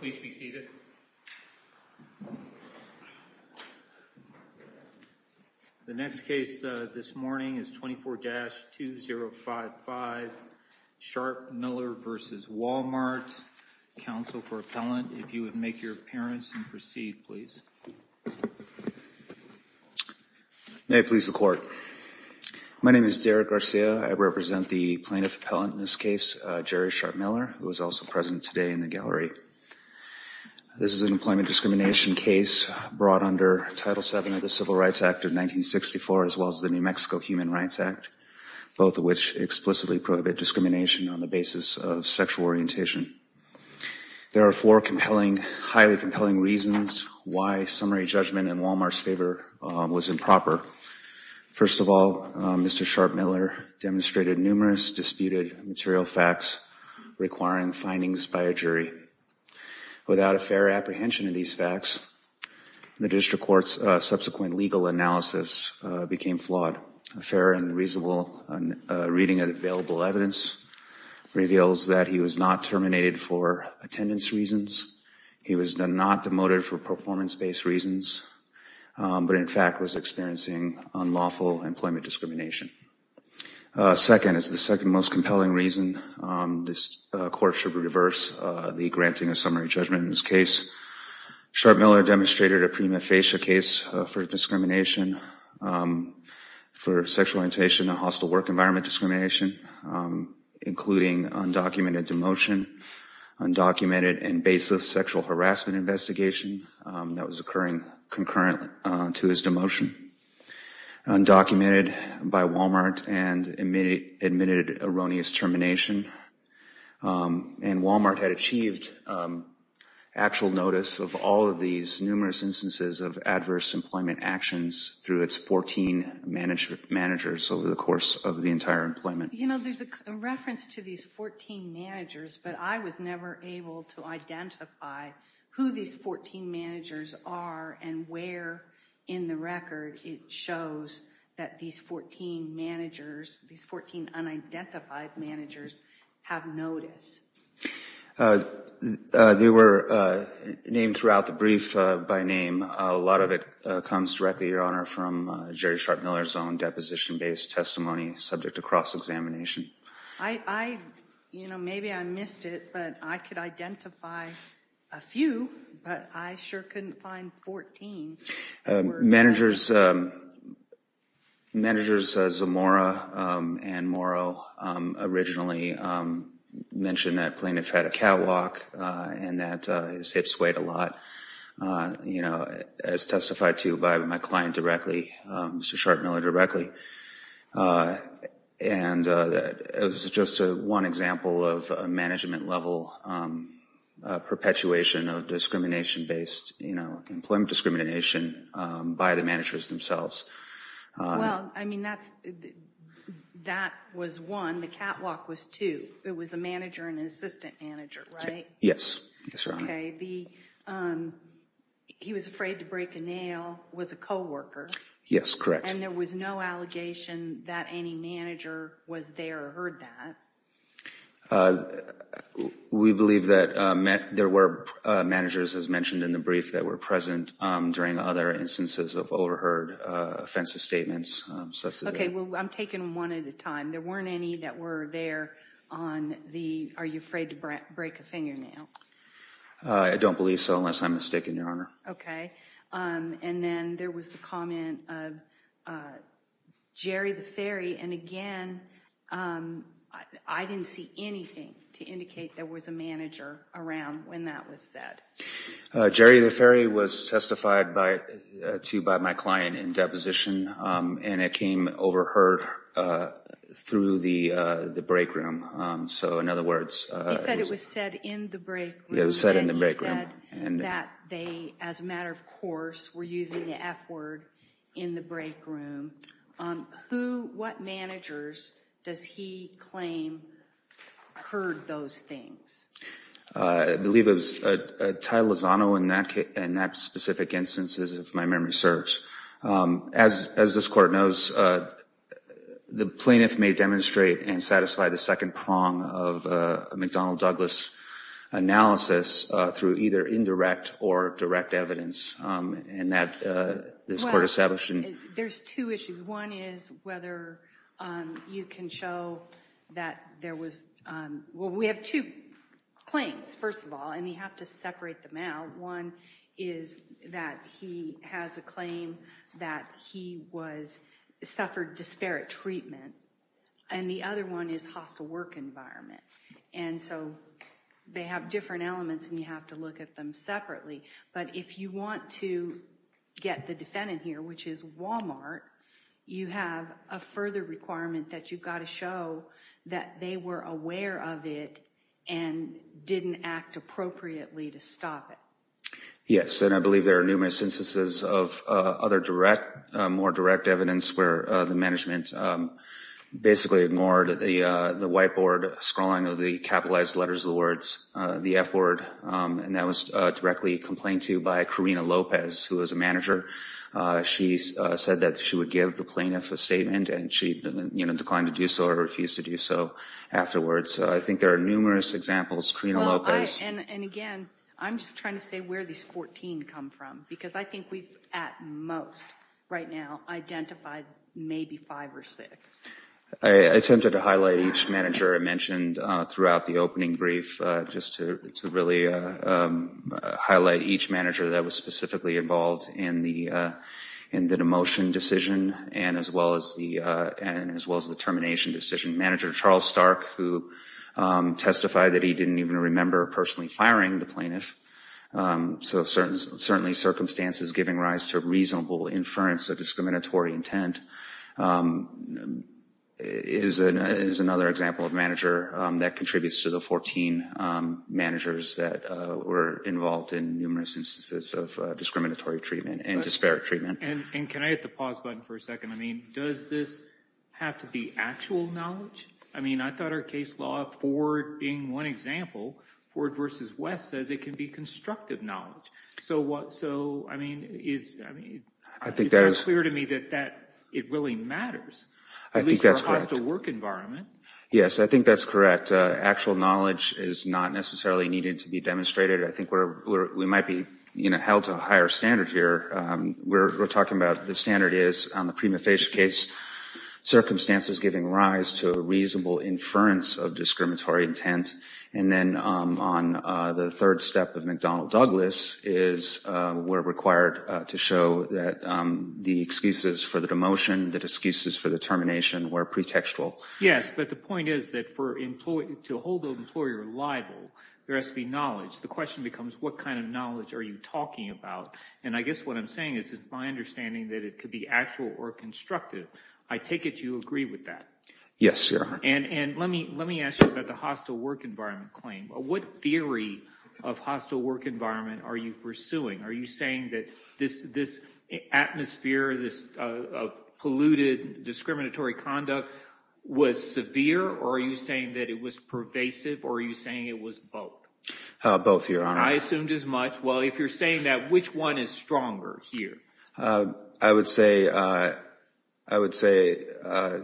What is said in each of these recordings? Please be seated. The next case this morning is 24-2055 Sharpe-Miller v. Walmart. Counsel for appellant, if you would make your appearance and proceed, please. May it please the court. My name is Derek Garcia. I represent the plaintiff appellant in this case, Jerry Sharpe-Miller, who is also present today in the gallery. This is an employment discrimination case brought under Title VII of the Civil Rights Act of 1964, as well as the New Mexico Human Rights Act, both of which explicitly prohibit discrimination on the basis of sexual orientation. There are four compelling, highly compelling reasons why summary judgment in Walmart's favor was improper. First of all, Mr. Sharpe-Miller demonstrated numerous disputed material facts requiring findings by a jury. Without a fair apprehension of these facts, the district court's subsequent legal analysis became flawed. A fair and reasonable reading of the available evidence reveals that he was not terminated for attendance reasons. He was not demoted for performance-based reasons, but in fact was experiencing unlawful employment discrimination. Second, as the second most compelling reason, this court should reverse the granting of summary judgment in this case. Sharpe-Miller demonstrated a prima facie case for discrimination for sexual orientation and hostile work environment discrimination, including undocumented demotion, undocumented and baseless sexual harassment investigation that was occurring concurrently to his demotion, undocumented by Walmart and admitted erroneous termination. And Walmart had achieved actual notice of all of these numerous instances of adverse employment actions through its 14 managers over the course of the entire employment. You know, there's a reference to these 14 managers, but I was never able to identify who these 14 managers are and where in the record it shows that these 14 managers, these 14 unidentified managers, have notice. They were named throughout the brief by name. A lot of it comes directly, your honor, from Jerry Sharpe-Miller's own deposition-based testimony subject to cross-examination. I, you know, maybe I missed it, but I could identify a few, but I sure couldn't find 14. Managers Zamora and Morrow originally mentioned that plaintiff had a catwalk and that his hips weighed a lot, you know, as testified to by my client directly, Mr. Sharpe-Miller directly. And it was just one example of a management level perpetuation of discrimination-based, you know, employment discrimination by the managers themselves. Well, I mean, that was one. The catwalk was two. It was a manager and an assistant manager, right? Yes. Yes, your honor. Okay, he was afraid to break a nail, was a co-worker. Yes, correct. And there was no allegation that any manager was there or heard that? We believe that there were managers, as mentioned in the brief, that were present during other instances of overheard offensive statements. Okay, well, I'm taking one at a time. There weren't any that were there on the, are you afraid to break a fingernail? I don't believe so unless I'm mistaken, your honor. Okay, and then there was the comment of Jerry the fairy, and again, I didn't see anything to indicate there was a manager around when that was said. Jerry the was testified to by my client in deposition, and it came overheard through the break room. So, in other words, he said it was said in the break room, that they, as a matter of course, were using the f-word in the break room. Who, what managers does he claim heard those things? I believe it was a Ty Lozano in that case, in that specific instance, as if my memory serves. As this court knows, the plaintiff may demonstrate and satisfy the second prong of a McDonnell Douglas analysis through either indirect or direct evidence, and that this court established. There's two issues. One is whether you can show that there was, well, we have two claims, first of all, and you have to separate them out. One is that he has a claim that he was, suffered disparate treatment, and the other one is hostile work environment, and so they have different elements and you have to look at them separately, but if you want to get the defendant here, which is Walmart, you have a further requirement that you've got to show that they were aware of it and didn't act appropriately to stop it. Yes, and I believe there are numerous instances of other direct, more direct evidence where the management basically ignored the whiteboard scrawling of the capitalized letters of the words, the f-word, and that was directly complained to by Karina Lopez, who was a manager. She said that she would give the plaintiff a statement and she, you know, declined to do so, refused to do so afterwards. I think there are numerous examples. Karina Lopez. And again, I'm just trying to say where these 14 come from, because I think we've, at most right now, identified maybe five or six. I attempted to highlight each manager I mentioned throughout the opening brief just to really highlight each manager that was specifically involved in the demotion decision and as well as the termination decision. Manager Charles Stark, who testified that he didn't even remember personally firing the plaintiff, so certainly circumstances giving rise to reasonable inference of discriminatory intent, is another example of a manager that contributes to the 14 managers that were involved in numerous instances of discriminatory treatment and disparate treatment. And can I hit the pause button for a second? I mean, does this have to be actual knowledge? I mean, I thought our case law, Ford being one example, Ford versus West, says it can be constructive knowledge. So what, so, I mean, is, I mean, I think that is clear to me that that, it really matters. I think that's correct to work environment. Yes, I think that's correct. Actual knowledge is not necessarily needed to be demonstrated. I think we're, we might be, you know, held to a higher standard here. We're talking about the standard is on the prima facie case, circumstances giving rise to a reasonable inference of discriminatory intent. And then on the third step of McDonnell Douglas is we're required to show that the excuses for the demotion, the excuses for the termination, were pretextual. Yes, but the point is that for employee, to hold the employer liable, there has to be knowledge. The question becomes, what kind of knowledge are you talking about? And I guess what I'm saying is my understanding that it could be actual or constructive. I take it you agree with that? Yes, sir. And, and let me, let me ask you about the hostile work environment claim. What theory of hostile work environment are you pursuing? Are you saying that this, this atmosphere, this polluted discriminatory conduct was severe? Or are you saying that it was pervasive? Or are you saying it was both? Both, your honor. I assumed as much. Well, if you're saying that, which one is stronger here? I would say, I would say,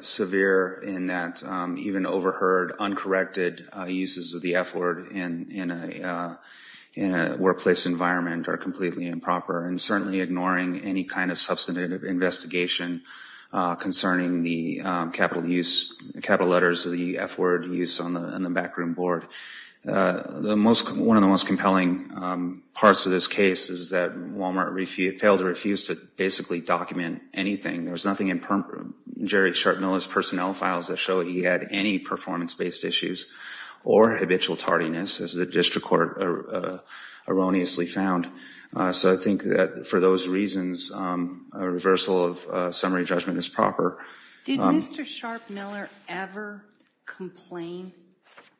severe in that even overheard uncorrected uses of the F word in, in a, in a workplace environment are completely improper. And certainly ignoring any kind of substantive investigation concerning the capital use, capital letters of the F word use on the, in the backroom board. The most, one of the most compelling parts of this case is that Walmart refused, failed to refuse to basically document anything. There was nothing in Jerry Chartmiller's personnel files that show he had any performance-based issues or habitual tardiness, as the district court erroneously found. So I think that for those reasons, a reversal of summary judgment is proper. Did Mr. Chartmiller ever complain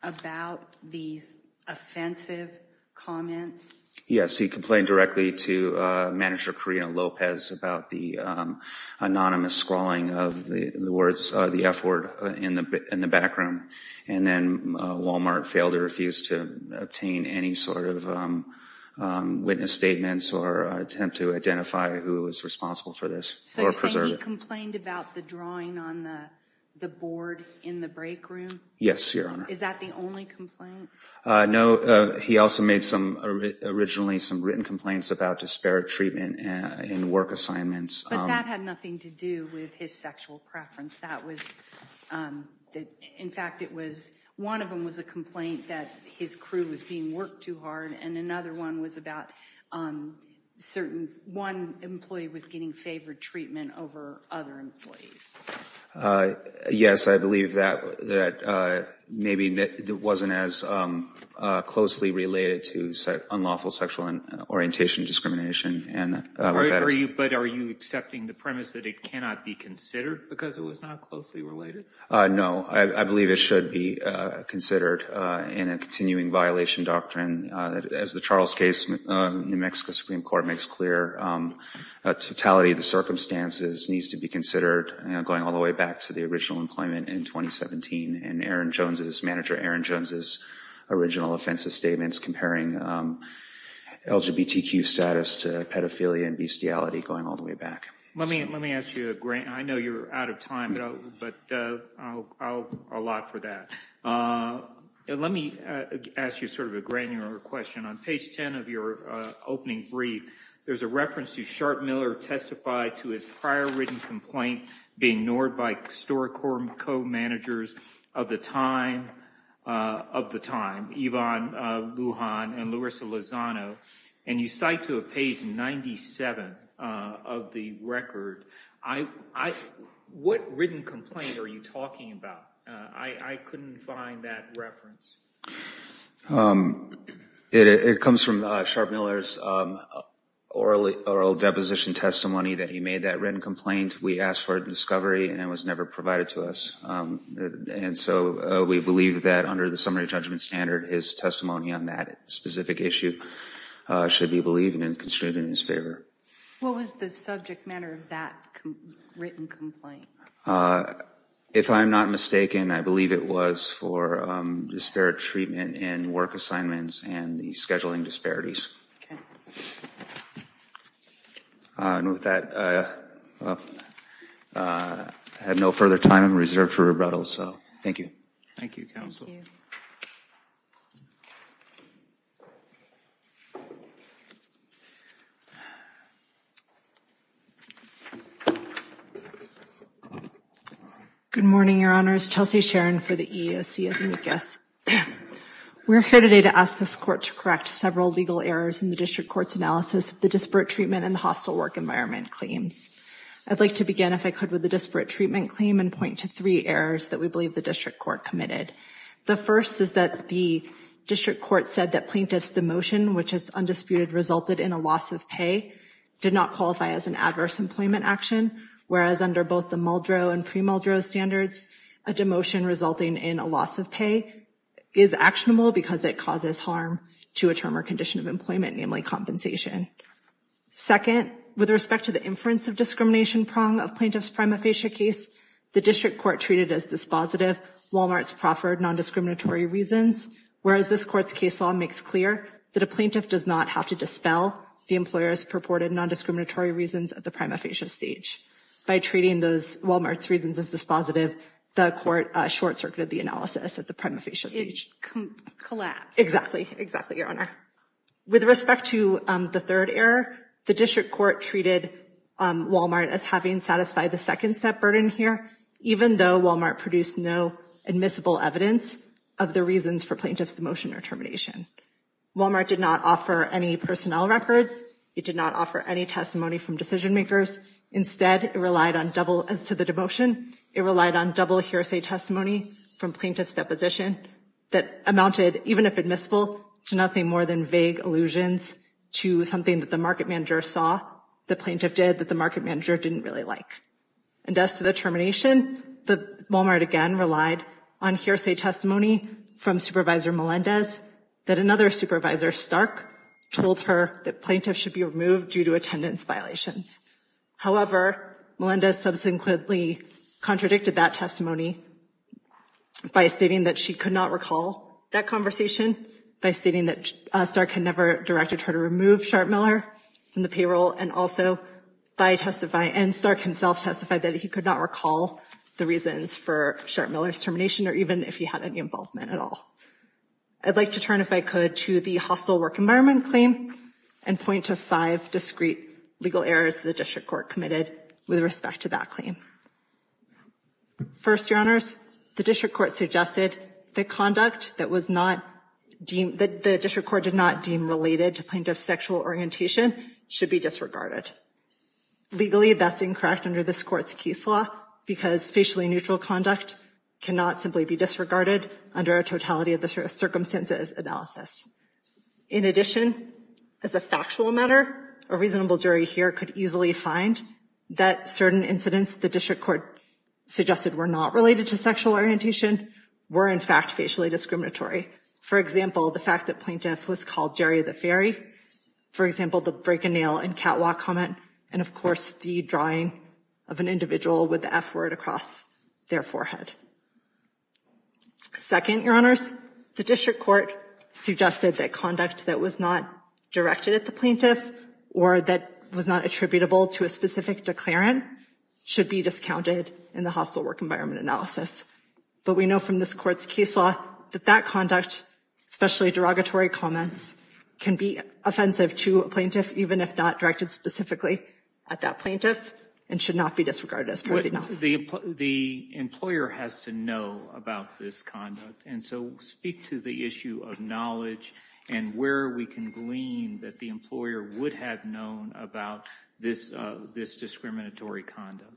about these offensive comments? Yes, he complained directly to manager Karina Lopez about the anonymous scrawling of the, the words, the F word in the, in the backroom. And then Walmart failed to refuse to obtain any sort of witness statements or attempt to identify who was responsible for this. So you're saying he complained about the drawing on the, the board in the break room? Yes, Your Honor. Is that the only complaint? No, he also made some, originally some written complaints about disparate treatment in work assignments. But that had nothing to do with his sexual preference. That was, that, in fact, it was, one of them was a complaint that his crew was being worked too hard. And another one was about certain, one employee was getting favored treatment over other employees. Yes, I believe that, that maybe it wasn't as closely related to unlawful sexual orientation discrimination. But are you accepting the premise that it cannot be considered because it was not closely related? No, I believe it should be considered in a continuing violation doctrine. As the Charles case, New Mexico Supreme Court makes clear, totality of the circumstances needs to be considered going all the way back to the original employment in 2017. And Aaron Jones's, manager Aaron Jones's original offensive statements comparing LGBTQ status to pedophilia and bestiality going all the way back. Let me, let me ask you a great, I know you're out of time, but I'll allow for that. Let me ask you sort of a granular question. On page 10 of your opening brief, there's a reference to Sharpe Miller testified to his prior written complaint being ignored by historic court co-managers of the time, of the time, Yvonne Lujan and Louisa Lozano. And you cite to a page 97 of the record. I, I, what written complaint are you talking about? I couldn't find that reference. It comes from Sharpe Miller's oral oral deposition testimony that he made that written complaint. We asked for discovery and it was never provided to us. And so we believe that under the summary judgment standard, his testimony on that specific issue should be believed and construed in his favor. What was the subject matter of that written complaint? If I'm not mistaken, I believe it was for disparate treatment and work assignments and the scheduling disparities. Okay. And with that, I have no further time reserved for rebuttal. Thank you. Thank you, counsel. Good morning, your honors. Chelsea Sharon for the EEOC as a guest. We're here today to ask this court to correct several legal errors in the district court's analysis of the disparate treatment and the hostile work environment claims. I'd like to begin, if I could, with the district court committed. The first is that the district court said that plaintiff's demotion, which is undisputed, resulted in a loss of pay, did not qualify as an adverse employment action. Whereas under both the Muldrow and pre-Muldrow standards, a demotion resulting in a loss of pay is actionable because it causes harm to a term or condition of employment, namely compensation. Second, with respect to the inference of discrimination prong of plaintiff's prima case, the district court treated as dispositive Walmart's proffered non-discriminatory reasons, whereas this court's case law makes clear that a plaintiff does not have to dispel the employer's purported non-discriminatory reasons at the prima facie stage. By treating those Walmart's reasons as dispositive, the court short-circuited the analysis at the prima facie stage. It collapsed. Exactly, exactly, your honor. With respect to the third error, the district court treated Walmart as having satisfied the second-step burden here, even though Walmart produced no admissible evidence of the reasons for plaintiff's demotion or termination. Walmart did not offer any personnel records. It did not offer any testimony from decision-makers. Instead, it relied on double, as to the demotion, it relied on double hearsay testimony from plaintiff's deposition that amounted, even if admissible, to nothing more than vague allusions to something that the market manager didn't really like. And as to the termination, Walmart again relied on hearsay testimony from Supervisor Melendez that another supervisor, Stark, told her that plaintiffs should be removed due to attendance violations. However, Melendez subsequently contradicted that testimony by stating that she could not recall that conversation, by stating that Stark had directed her to remove Sharp-Miller from the payroll, and Stark himself testified that he could not recall the reasons for Sharp-Miller's termination, or even if he had any involvement at all. I'd like to turn, if I could, to the hostile work environment claim and point to five discrete legal errors the district court committed with respect to that claim. First, your honors, the district court suggested the conduct that the district court did not deem related to plaintiff's sexual orientation should be disregarded. Legally, that's incorrect under this court's case law because facially neutral conduct cannot simply be disregarded under a totality of the circumstances analysis. In addition, as a factual matter, a reasonable jury here could easily find that certain incidents the district court suggested were not related to sexual orientation were in fact facially discriminatory. For example, the fact that plaintiff was called Jerry the Fairy, for example, the break a nail and catwalk comment, and of course the drawing of an individual with the f-word across their forehead. Second, your honors, the district court suggested that conduct that was not directed at the plaintiff or that was not attributable to a specific declarant should be discounted in the hostile work environment analysis. But we know from this court's case law that that conduct, especially derogatory comments, can be offensive to a plaintiff even if not directed specifically at that plaintiff and should not be disregarded as part of the analysis. The employer has to know about this conduct and so speak to the issue of knowledge and where we can glean that the employer would have known about this discriminatory conduct.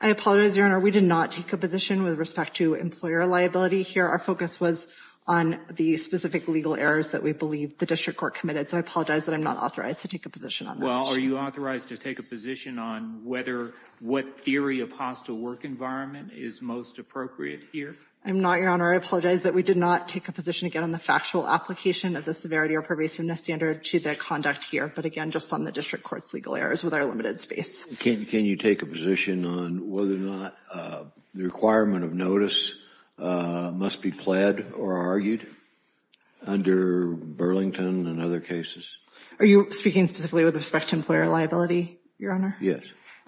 I apologize, your honor, we did not take a position with respect to employer liability here. Our focus was on the specific legal errors that we believe the district court committed, so I apologize that I'm not authorized to take a position on that. Well, are you authorized to take a position on whether what theory of hostile work environment is most appropriate here? I'm not, your honor. I did not take a position again on the factual application of the severity or pervasiveness standard to the conduct here, but again just on the district court's legal errors with our limited space. Can you take a position on whether or not the requirement of notice must be pled or argued under Burlington and other cases? Are you speaking specifically with respect to employer liability, your honor? Yes.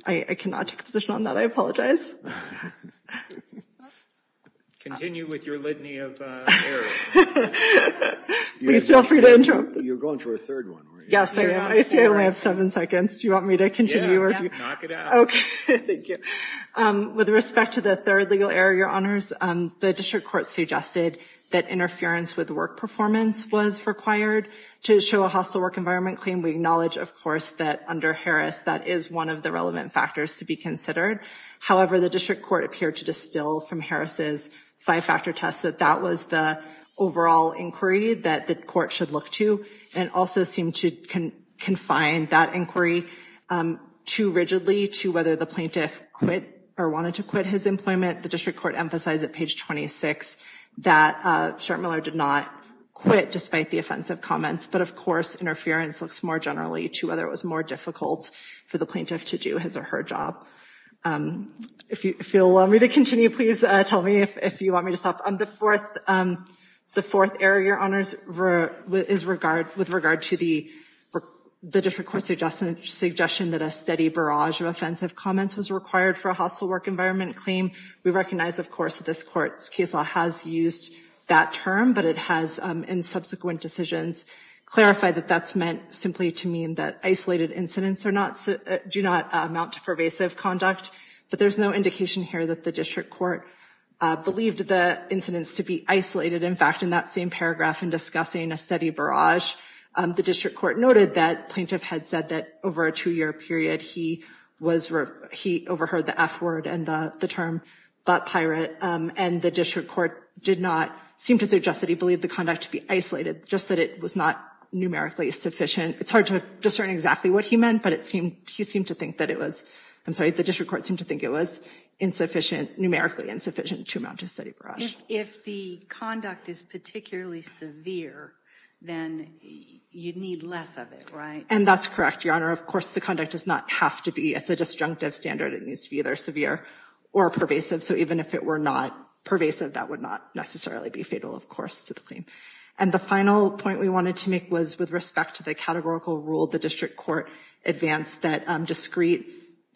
I cannot take a position on that, I apologize. Continue with your litany of errors. Please feel free to interrupt. You're going for a third one. Yes, I am. I see I only have seven seconds. Do you want me to continue? Knock it out. Okay, thank you. With respect to the third legal error, your honors, the district court suggested that interference with work performance was required to show a hostile work environment claim. We acknowledge, of course, that under Harris that is one of the relevant factors to be considered. However, the district court appeared to distill from Harris's five-factor test that that was the overall inquiry that the court should look to and also seemed to confine that inquiry too rigidly to whether the plaintiff quit or wanted to quit his employment. The district court emphasized at page 26 that Schertmiller did not quit despite the offensive comments, but of course interference looks more generally to whether it was more difficult for the plaintiff to do his or her job. If you want me to continue, please tell me if you want me to stop. The fourth error, your honors, is with regard to the district court's suggestion that a steady barrage of offensive comments was required for a hostile work environment claim. We recognize, of course, that this court's case law has used that term, but it has in subsequent decisions clarified that that's meant simply to mean that isolated incidents do not amount to pervasive conduct, but there's no indication here that the district court believed the incidents to be isolated. In fact, in that same paragraph in discussing a steady barrage, the district court noted that plaintiff had said that over a two-year period he overheard the f-word and the term butt pirate, and the district court did not seem to suggest that he believed the conduct to be sufficient. It's hard to discern exactly what he meant, but he seemed to think that it was, I'm sorry, the district court seemed to think it was insufficient, numerically insufficient, to amount to steady barrage. If the conduct is particularly severe, then you need less of it, right? And that's correct, your honor. Of course, the conduct does not have to be, it's a disjunctive standard. It needs to be either severe or pervasive. So even if it were not pervasive, that would not necessarily be fatal, of course, to the claim. And the final point we wanted to make was with respect to the categorical rule the district court advanced that discrete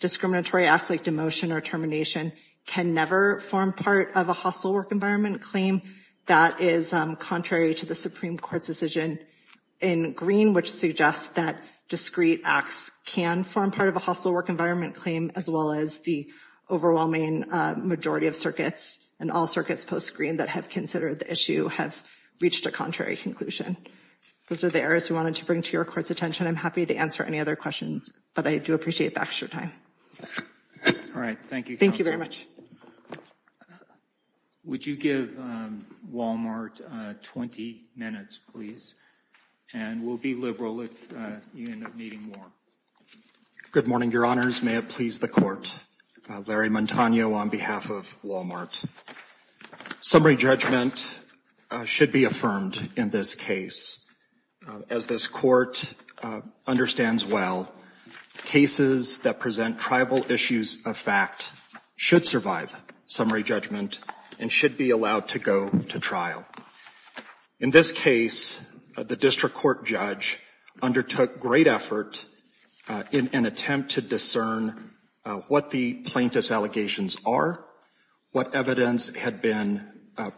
discriminatory acts like demotion or termination can never form part of a hostile work environment claim. That is contrary to the Supreme Court's decision in green, which suggests that discrete acts can form part of a hostile work environment claim, as well as the overwhelming majority of circuits and all circuits post-green that have considered the issue have reached a contrary conclusion. Those are the areas we wanted to bring to your court's attention. I'm happy to answer any other questions, but I do appreciate the extra time. All right. Thank you. Thank you very much. Would you give Walmart 20 minutes, please? And we'll be liberal if you end up needing more. Good morning, your honors. May it please the court. Larry Montano on behalf of Walmart. Summary judgment should be affirmed in this case. As this court understands well, cases that present tribal issues of fact should survive summary judgment and should be allowed to go to trial. In this case, the district court judge undertook great effort in an attempt to what the plaintiff's allegations are, what evidence had been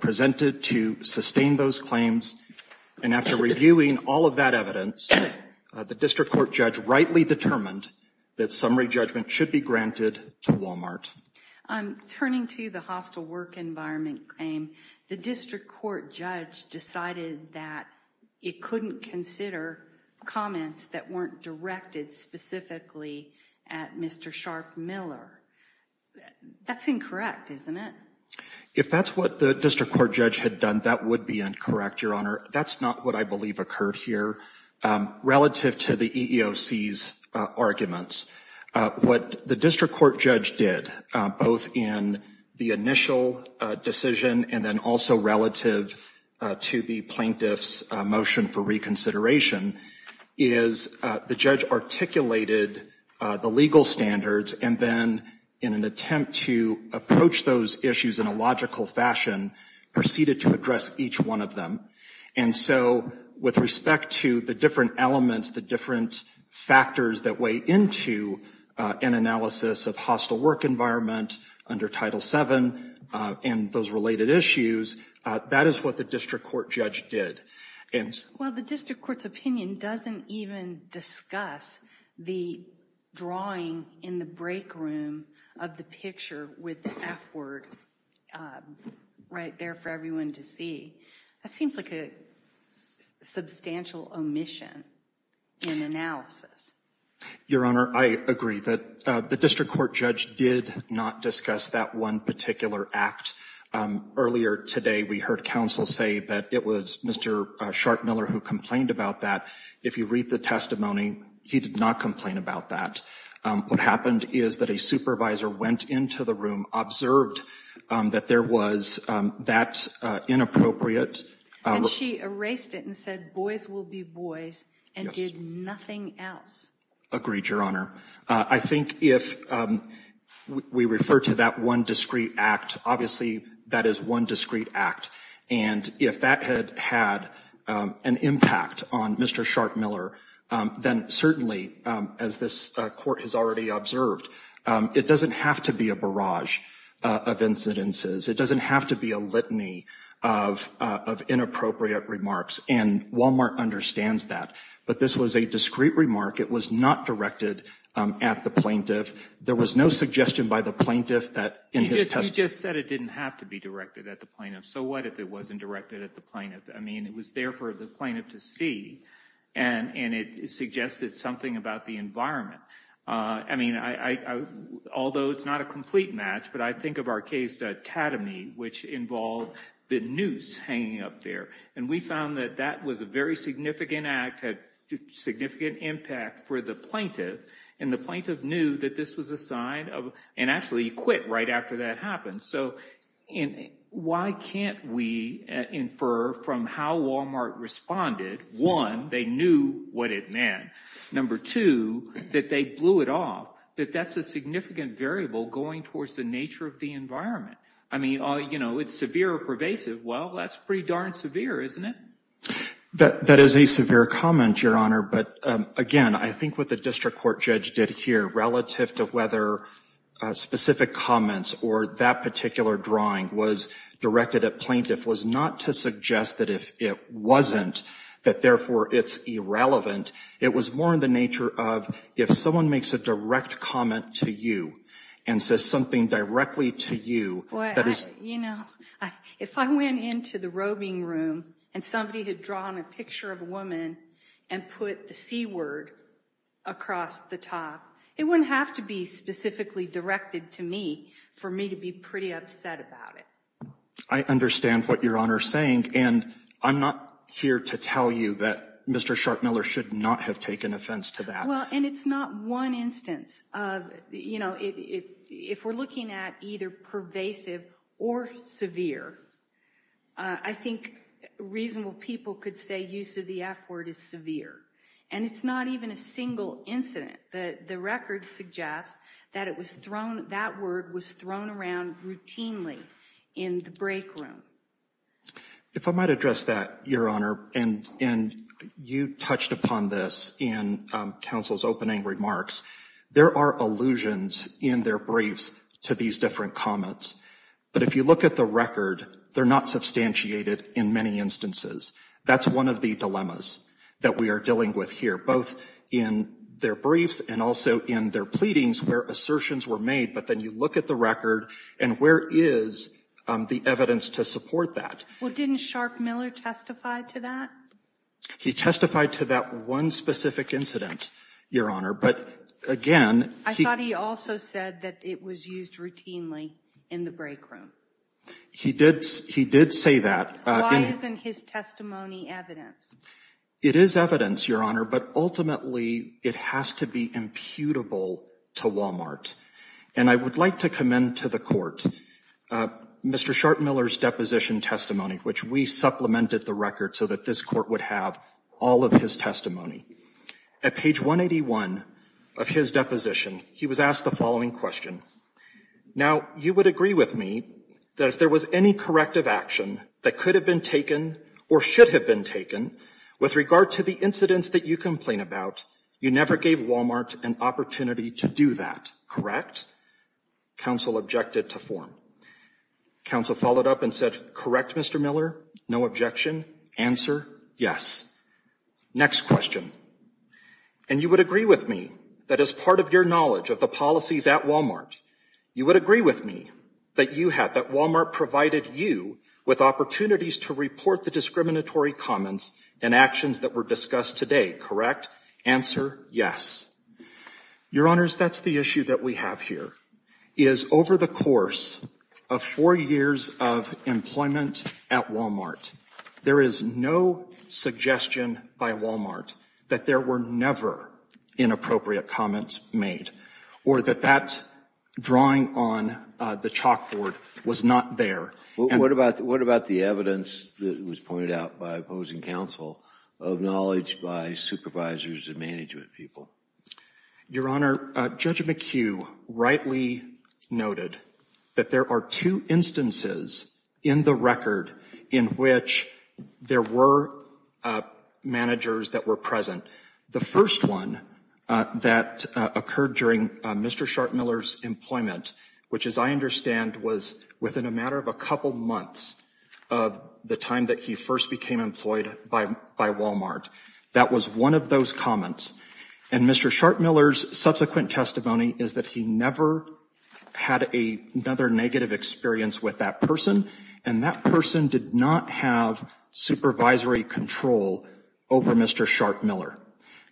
presented to sustain those claims. And after reviewing all of that evidence, the district court judge rightly determined that summary judgment should be granted to Walmart. Turning to the hostile work environment claim, the district court judge decided that it couldn't consider comments that weren't directed specifically at Mr. Sharp Miller. That's incorrect, isn't it? If that's what the district court judge had done, that would be incorrect, your honor. That's not what I believe occurred here. Relative to the EEOC's arguments, what the district court judge did, both in the initial decision and then also relative to the plaintiff's motion for reconsideration, is the judge articulated the legal standards and then in an attempt to approach those issues in a logical fashion, proceeded to address each one of them. And so with respect to the different elements, the different factors that weigh into an analysis of hostile work environment under Title VII and those related issues, that is what the district court judge did. Well, the district court's opinion doesn't even discuss the drawing in the break room of the picture with the F word right there for everyone to see. That seems like a substantial omission in analysis. Your honor, I agree that the district court judge did not discuss that one particular act. Earlier today, we heard counsel say that it was Mr. Sharp Miller who complained about that. If you read the testimony, he did not complain about that. What happened is that a supervisor went into the room, observed that there was that inappropriate. And she erased it and said, boys will be boys and did nothing else. Agreed, your honor. I think if we refer to that one discrete act, obviously that is one discrete act. And if that had had an impact on Mr. Sharp Miller, then certainly as this court has already observed, it doesn't have to be a of incidences. It doesn't have to be a litany of inappropriate remarks. And Walmart understands that. But this was a discrete remark. It was not directed at the plaintiff. There was no suggestion by the plaintiff that in his testimony. You just said it didn't have to be directed at the plaintiff. So what if it wasn't directed at the plaintiff? I mean, it was there for the plaintiff to see and it suggested something about the environment. I mean, although it's not a match, but I think of our case, Tatamy, which involved the noose hanging up there. And we found that that was a very significant act, had significant impact for the plaintiff. And the plaintiff knew that this was a sign of, and actually quit right after that happened. So why can't we infer from how Walmart responded, one, they knew what it meant. Number two, that they blew it off. That that's a significant variable going towards the nature of the environment. I mean, it's severe or pervasive. Well, that's pretty darn severe, isn't it? That is a severe comment, Your Honor. But again, I think what the district court judge did here relative to whether specific comments or that particular drawing was directed at plaintiff was not to suggest that if it wasn't, that therefore it's irrelevant. It was more in the if someone makes a direct comment to you and says something directly to you. You know, if I went into the roving room and somebody had drawn a picture of a woman and put the C word across the top, it wouldn't have to be specifically directed to me for me to be pretty upset about it. I understand what Your Honor is saying. And I'm not here to tell you that Mr. Scharkmiller should not have taken offense to that. Well, and it's not one instance of, you know, if we're looking at either pervasive or severe, I think reasonable people could say use of the F word is severe. And it's not even a single incident that the record suggests that it was thrown, that word was thrown around routinely in the break room. If I might address that, Your Honor, and you touched upon this in counsel's opening remarks, there are allusions in their briefs to these different comments. But if you look at the record, they're not substantiated in many instances. That's one of the dilemmas that we are dealing with here, both in their briefs and also in their pleadings where assertions were made. But then you look at the and where is the evidence to support that? Well, didn't Scharkmiller testify to that? He testified to that one specific incident, Your Honor. But again, I thought he also said that it was used routinely in the break room. He did. He did say that. Why isn't his testimony evidence? It is evidence, Your Honor. But ultimately, it has to be imputable to Walmart. And I would like to commend to the Court Mr. Scharkmiller's deposition testimony, which we supplemented the record so that this Court would have all of his testimony. At page 181 of his deposition, he was asked the following question. Now, you would agree with me that if there was any corrective action that could have been taken or should have been taken with regard to the incidents that you never gave Walmart an opportunity to do that, correct? Council objected to form. Council followed up and said, correct, Mr. Miller. No objection. Answer, yes. Next question. And you would agree with me that as part of your knowledge of the policies at Walmart, you would agree with me that you had, that Walmart provided you with opportunities to report the answer, yes. Your Honors, that's the issue that we have here, is over the course of four years of employment at Walmart, there is no suggestion by Walmart that there were never inappropriate comments made or that that drawing on the chalkboard was not there. What about the evidence that was pointed out by opposing counsel of knowledge by supervisors and management people? Your Honor, Judge McHugh rightly noted that there are two instances in the record in which there were managers that were present. The first one that occurred during Mr. Schartmiller's employment, which as I understand, was within a matter of a couple months of the time that he first became employed by Walmart. That was one of those comments. And Mr. Schartmiller's subsequent testimony is that he never had another negative experience with that person, and that person did not have supervisory control over Mr. Schartmiller.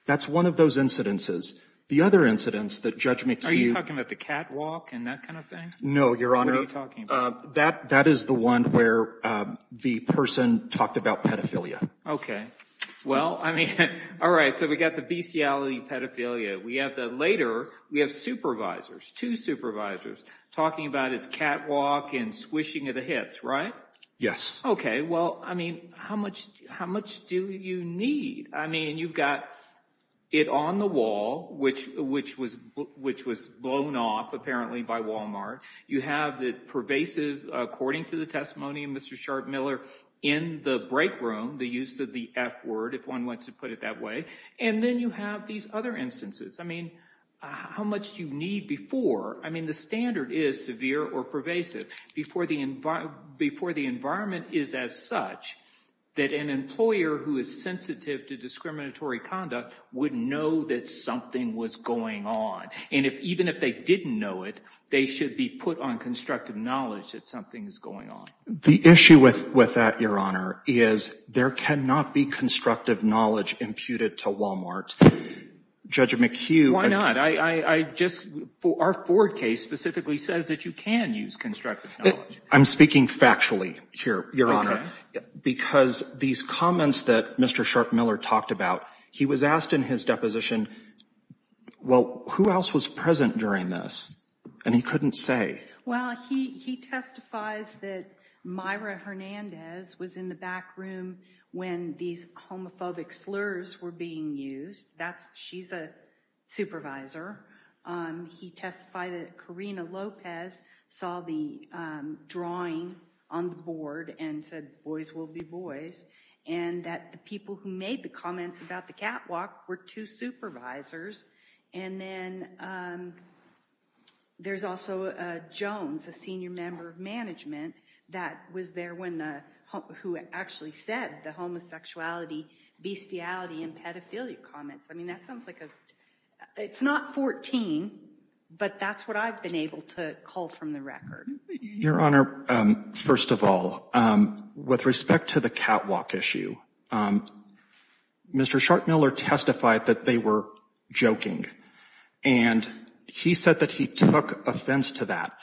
That's one of those incidences. The other incidents that Judge McHugh... Are you talking about the catwalk and that kind of thing? No, Your Honor. What are you talking about? That is the one where the person talked about pedophilia. Okay. Well, I mean, all right, so we got the bestiality pedophilia. We have the later, we have supervisors, two supervisors, talking about his catwalk and squishing of the hips, right? Yes. Okay. Well, I mean, how much do you need? I mean, you've got it on the wall, which was blown off, apparently, by Walmart. You have the pervasive, according to the testimony of Mr. Schartmiller, in the break room, the use of the F word, if one wants to put it that way. And then you have these other instances. I mean, how much do you need before? I mean, the standard is severe or pervasive before the environment is as such that an employer who is sensitive to discriminatory conduct would know that something was going on. And even if they didn't know it, they should be put on constructive knowledge that something is going on. The issue with that, Your Honor, is there cannot be constructive knowledge imputed to Walmart. Judge McHugh... Our Ford case specifically says that you can use constructive knowledge. I'm speaking factually here, Your Honor. Because these comments that Mr. Schartmiller talked about, he was asked in his deposition, well, who else was present during this? And he couldn't say. Well, he testifies that Myra Hernandez was in the back room when these homophobic slurs were being used. She's a supervisor. He testified that Karina Lopez saw the drawing on the board and said, boys will be boys. And that the people who made the comments about the catwalk were two supervisors. And then there's also Jones, a senior member of management, that was there when, who actually said the homosexuality, bestiality, and pedophilia comments. I mean, that sounds like a, it's not 14, but that's what I've been able to call from the record. Your Honor, first of all, with respect to the catwalk issue, Mr. Schartmiller testified that they were joking. And he said that he took offense to that.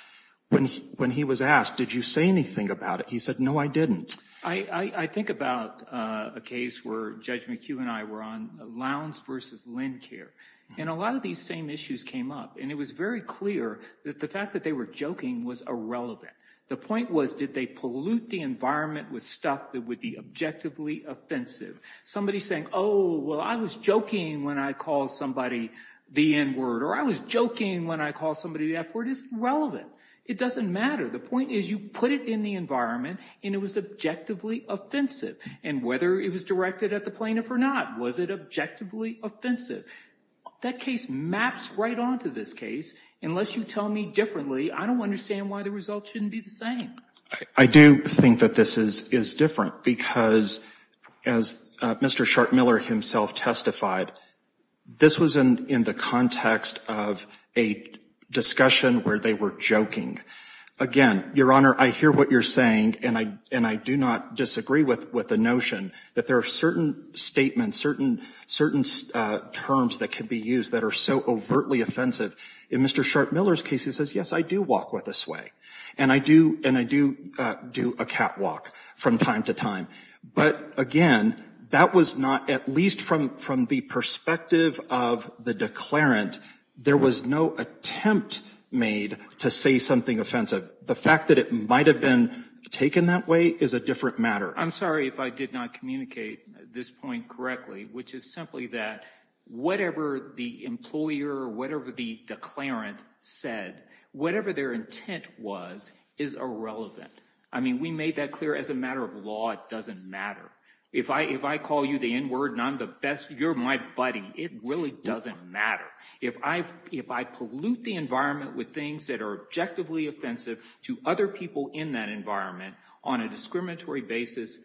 When he was asked, did you say anything about it? He said, no, I didn't. I think about a case where Judge McHugh and I were on Lowndes versus LendCare. And a lot of these same issues came up. And it was very clear that the fact that they were joking was irrelevant. The point was, did they pollute the environment with stuff that would be objectively offensive? Somebody saying, oh, well, I was joking when I called somebody the N-word, or I was joking when I called somebody the F-word is irrelevant. It doesn't matter. The point is, you put it in the environment, and it was objectively offensive. And whether it was directed at the plaintiff or not, was it objectively offensive? That case maps right onto this case. Unless you tell me differently, I don't understand why the results shouldn't be the same. I do think that this is different because, as Mr. Schartmiller himself testified, this was in the context of a discussion where they were joking. Again, Your Honor, I hear what you're saying, and I do not disagree with the notion that there are certain statements, certain terms that can be used that are so overtly offensive. In Mr. Schartmiller's case, he says, yes, I do walk with a sway. And I do do a catwalk from time to time. But again, that was not, at least from the perspective of the declarant, there was no attempt made to say something offensive. The fact that it might have been taken that way is a different matter. I'm sorry if I did not communicate this point correctly, which is simply that whatever the employer, whatever the declarant said, whatever their intent was, is irrelevant. I mean, we made that clear as a matter of law, it doesn't matter. If I call you the N-word and I'm the best, you're my buddy, it really doesn't matter. If I pollute the environment with things that are objectively offensive to other people in that environment on a discriminatory basis,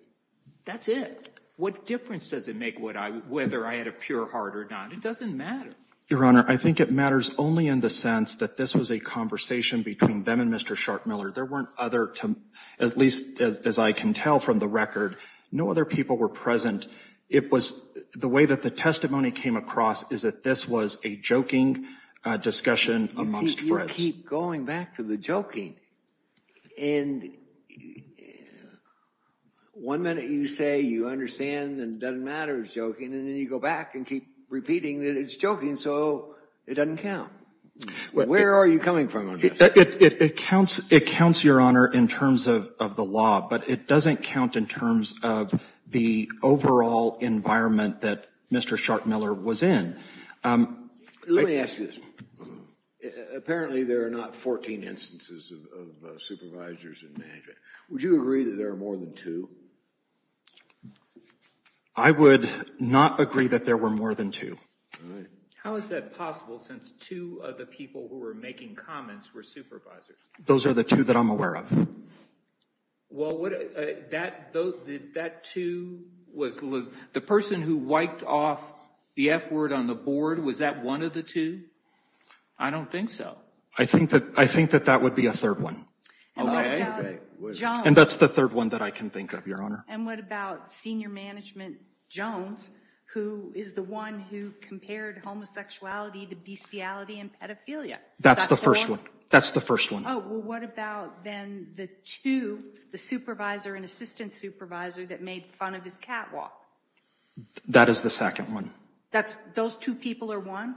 that's it. What difference does it make whether I had a pure heart or not? It doesn't matter. Your Honor, I think it matters only in the sense that this was a conversation between them and Mr. Scharkmiller. There weren't other, at least as I can tell from the record, no other people were present. The way that the testimony came across is that this was a joking discussion amongst friends. You keep going back to the joking. And one minute you say you understand and it doesn't matter, it's joking, and then you go back and keep repeating that it's joking so it doesn't count. Where are you coming from on this? It counts, Your Honor, in terms of the law, but it doesn't count in terms of the overall environment that Mr. Scharkmiller was in. Let me ask you this. Apparently there are not 14 instances of supervisors in management. Would you agree that there are more than two? I would not agree that there were more than two. How is that possible since two of the people who were making comments were supervisors? Those are the two that I'm aware of. Well, that two, the person who wiped off the F word on the board, was that one of the two? I don't think so. I think that that would be a third one. And that's the third one that I can think of, Your Honor. And what about Senior Management Jones, who is the one who compared homosexuality to bestiality and pedophilia? That's the first one. That's the first one. Oh, well, what about then the two, the supervisor and assistant supervisor that made fun of his catwalk? That is the second one. Those two people are one?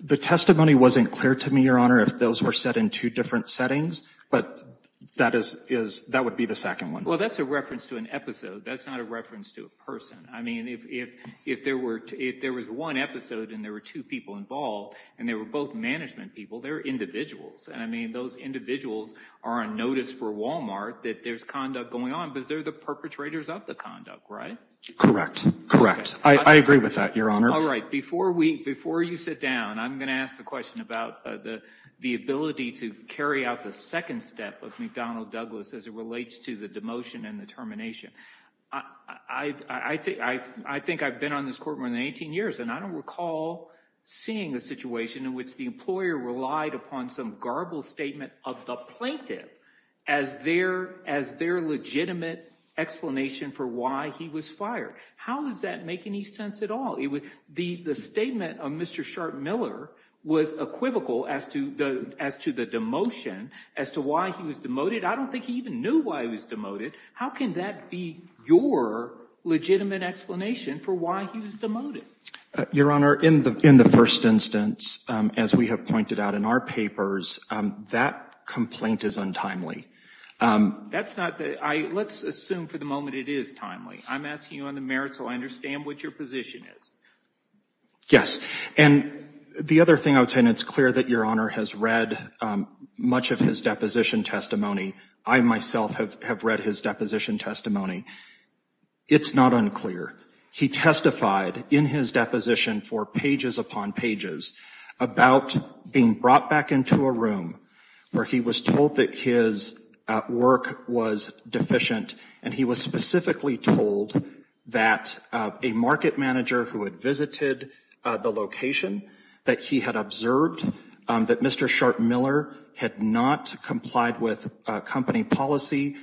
The testimony wasn't clear to me, Your Honor, if those were set in two different settings, but that would be the second one. Well, that's a reference to an episode. That's not a reference to a person. I mean, if there was one episode and there were two people involved and they were both management people, they're individuals. And I mean, those individuals are on notice for Walmart that there's conduct going on because they're the perpetrators of the conduct, right? Correct. Correct. I agree with that, Your Honor. All right. Before you sit down, I'm going to ask the question about the ability to carry out the second step of McDonnell Douglas as it relates to the demotion and the termination. I think I've been on this court more than 18 years and I don't recall seeing a situation in which the employer relied upon some garbled statement of the plaintiff as their legitimate explanation for why he was fired. How does that make any sense at all? The statement of Mr. Sharp Miller was equivocal as to the demotion, as to why he was demoted. I don't think he even knew why he was demoted. How can that be your legitimate explanation for why he was demoted? Your Honor, in the first instance, as we have pointed out in our papers, that complaint is untimely. Let's assume for the moment it is timely. I'm asking you on the merits so I understand what your position is. Yes. And the other thing I would say, and it's clear that Your Honor has read much of his deposition testimony. I myself have read his deposition testimony. It's not unclear. He testified in his deposition for pages upon pages about being brought back into a room where he was told that his work was deficient and he was specifically told that a market manager who had visited the location, that he had observed that Mr. Sharp Miller had not complied with company policy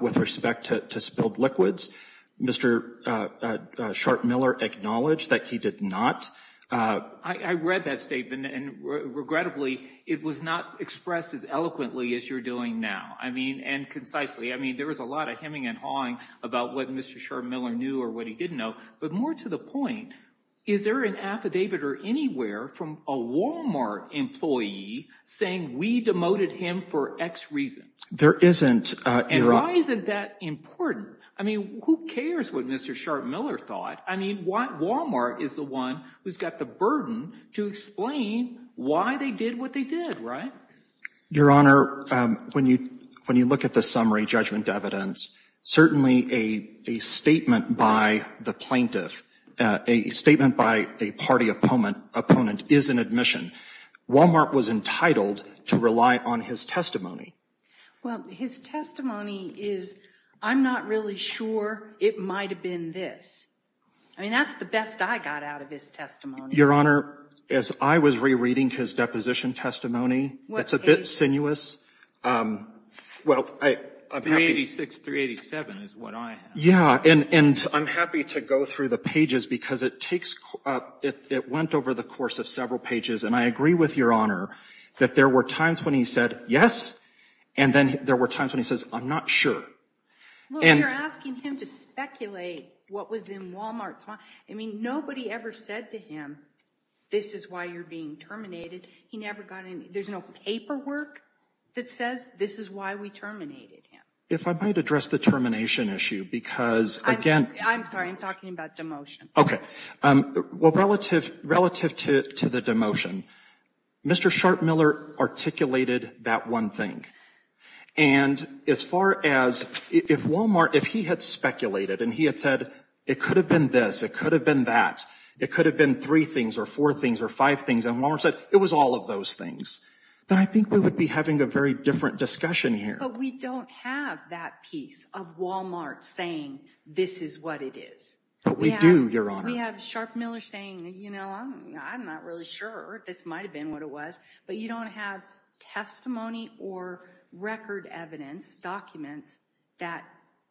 with respect to spilled liquids. Mr. Sharp Miller acknowledged that he did not. I read that statement and regrettably, it was not expressed as eloquently as you're doing now. I mean, and concisely. I mean, there was a lot of hemming and hawing about what Mr. Sharp Miller knew or what he didn't know, but more to the point, is there an affidavit or anywhere from a Walmart employee saying we demoted him for X reason? There isn't, Your Honor. And why isn't that important? I mean, who cares what Mr. Sharp Miller thought? I mean, Walmart is the one who's got the burden to explain why they did what they did, right? Your Honor, when you look at the summary judgment evidence, certainly a statement by the plaintiff, a statement by a party opponent, is an admission. Walmart was entitled to rely on his testimony. Well, his testimony is, I'm not really sure it might have been this. I mean, that's the best I got out of his testimony. Your Honor, as I was rereading his deposition testimony, it's a bit sinuous. Well, I'm happy— 386, 387 is what I have. Yeah, and I'm happy to go through the pages because it takes—it went over the course of several pages. And I agree with Your Honor that there were times when he said, yes, and then there were times when he says, I'm not sure. Well, you're asking him to speculate what was in Walmart's—I mean, nobody ever said to him, this is why you're being terminated. He never got any—there's no paperwork that says this is why we terminated him. If I might address the termination issue, because, again— I'm sorry, I'm talking about demotion. Okay. Well, relative to the demotion, Mr. Sharp-Miller articulated that one thing. And as far as if Walmart—if he had speculated and he had said, it could have been this, it could have been that, it could have been three things or four things or five things, and Walmart said, it was all of those things, then I think we would be having a very different discussion here. But we don't have that piece of Walmart saying, this is what it is. But we do, Your Honor. We have Sharp-Miller saying, you know, I'm not really sure. This might have been what it was. But you don't have testimony or record evidence, documents that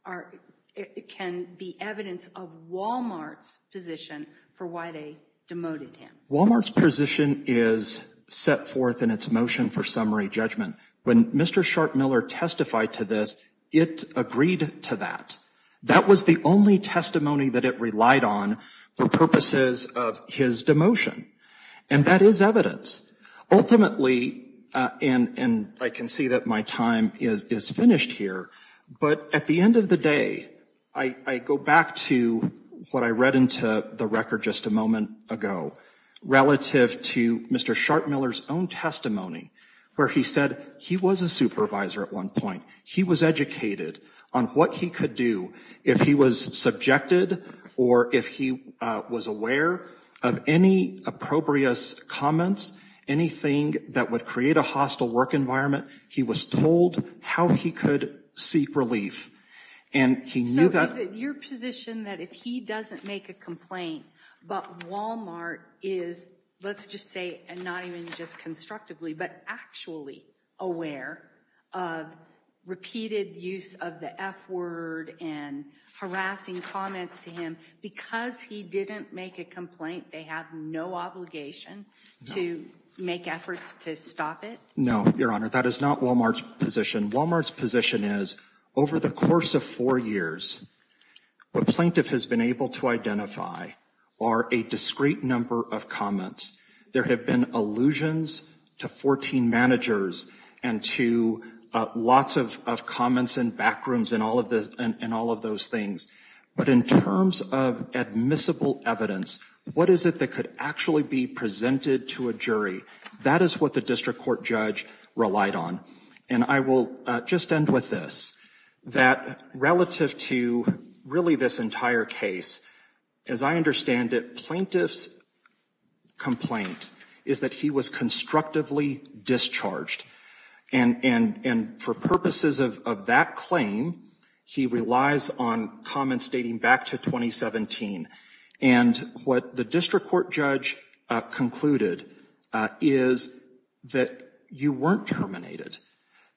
are—can be evidence of Walmart's position for why they demoted him. Walmart's position is set forth in its motion for summary judgment. When Mr. Sharp-Miller testified to this, it agreed to that. That was the only testimony that it relied on for purposes of his demotion. And that is evidence. Ultimately—and I can see that my time is finished here—but at the end of the day, I go back to what I read into the record just a moment ago relative to Mr. Sharp-Miller's own testimony, where he said he was a supervisor at one point. He was educated on what he could do if he was subjected or if he was aware of any appropriate comments, anything that would create a hostile work environment. He was told how he could seek relief. And he knew that— So is it your position that if he doesn't make a complaint, but Walmart is, let's just say, and not even just constructively, but actually aware of repeated use of the F-word and harassing comments to him, because he didn't make a complaint, they have no obligation to make efforts to stop it? No, Your Honor. That is not Walmart's position. Walmart's position is, over the course of four years, what plaintiff has been able to identify are a discrete number of comments. There have been allusions to 14 managers and to lots of comments and backrooms and all of those things. But in terms of admissible evidence, what is it that could actually be presented to a jury? That is what the district court judge relied on. And I will just end with this, that relative to really this entire case, as I understand it, plaintiff's complaint is that he was constructively discharged. And for purposes of that claim, he relies on comments dating back to 2017. And what the district court judge concluded is that you weren't terminated.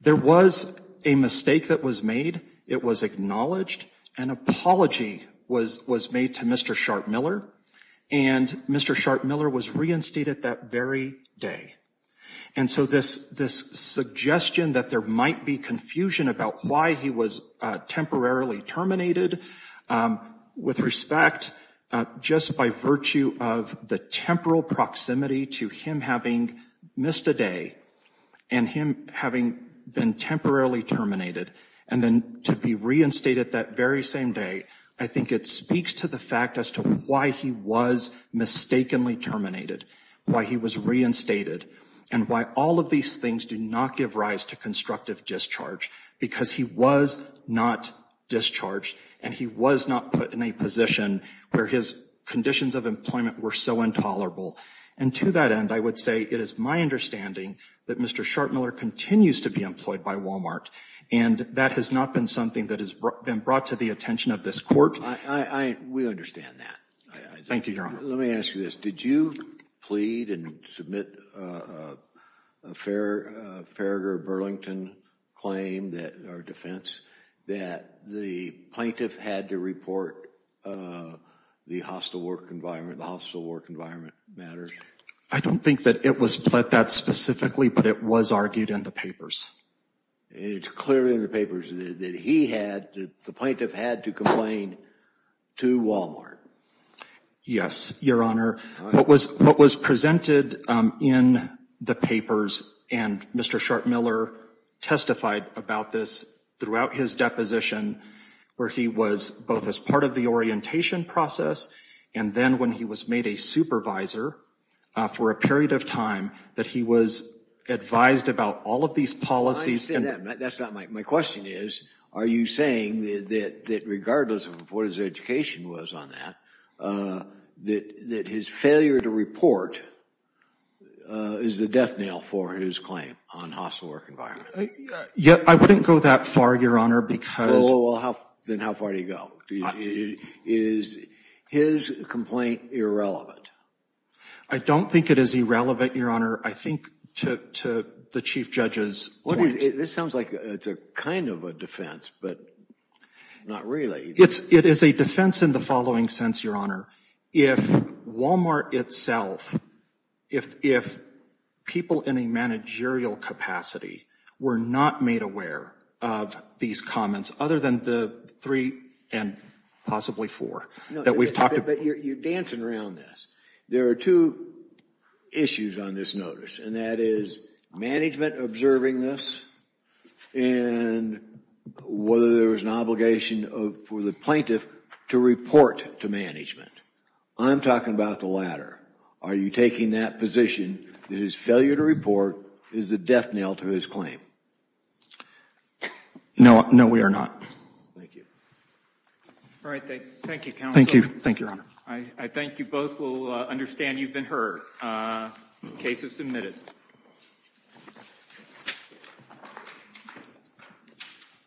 There was a mistake that was made. It was acknowledged. An apology was made to Mr. Sharpe Miller, and Mr. Sharpe Miller was reinstated that very day. And so this suggestion that there might be confusion about why he was temporarily terminated, with respect, just by virtue of the temporal proximity to him having missed a day and him having been temporarily terminated and then to be reinstated that very same day, I think it speaks to the fact as to why he was mistakenly terminated, why he was reinstated, and why all of these things do not give rise to constructive discharge, because he was not discharged and he was not put in a position where his conditions of employment were so intolerable. And to that end, I would say it is my understanding that Mr. Sharpe Miller continues to be employed by Walmart, and that has not been something that has been brought to the attention of this court. We understand that. Thank you, Your Honor. Let me ask you this. Did you plead and submit a Farragher Burlington claim that, or defense, that the plaintiff had to report the hostile work environment, the hostile work environment matter? I don't think that it was put that specifically, but it was argued in the papers. It's clearly in the papers that he had, that the plaintiff had to complain to Walmart. Yes, Your Honor. What was presented in the papers, and Mr. Sharpe Miller testified about this throughout his deposition, where he was both as part of the orientation process, and then when he was made a supervisor for a period of time, that he was advised about all of these policies. I understand that. That's not my, my question is, are you saying that regardless of what his education was on that, that, that his failure to report is the death knell for his claim on hostile work environment? Yeah, I wouldn't go that far, Your Honor, because. Oh, well, how, then how far do you go? Is his complaint irrelevant? I don't think it is irrelevant, Your Honor. I think to, to the Chief Judge's point. This sounds like it's a kind of a defense, but not really. It's, it is a defense in the following sense, Your Honor. If Walmart itself, if, if people in a managerial capacity were not made aware of these comments, other than the three and possibly four that we've talked about. You're dancing around this. There are two issues on this notice, and that is management observing this, and whether there was an obligation for the plaintiff to report to management. I'm talking about the latter. Are you taking that position that his failure to report is the death knell to his claim? No, no, we are not. Thank you. All right. Thank you, counsel. Thank you. Thank you, Your Honor. I thank you both. We'll understand you've been heard. Case is submitted.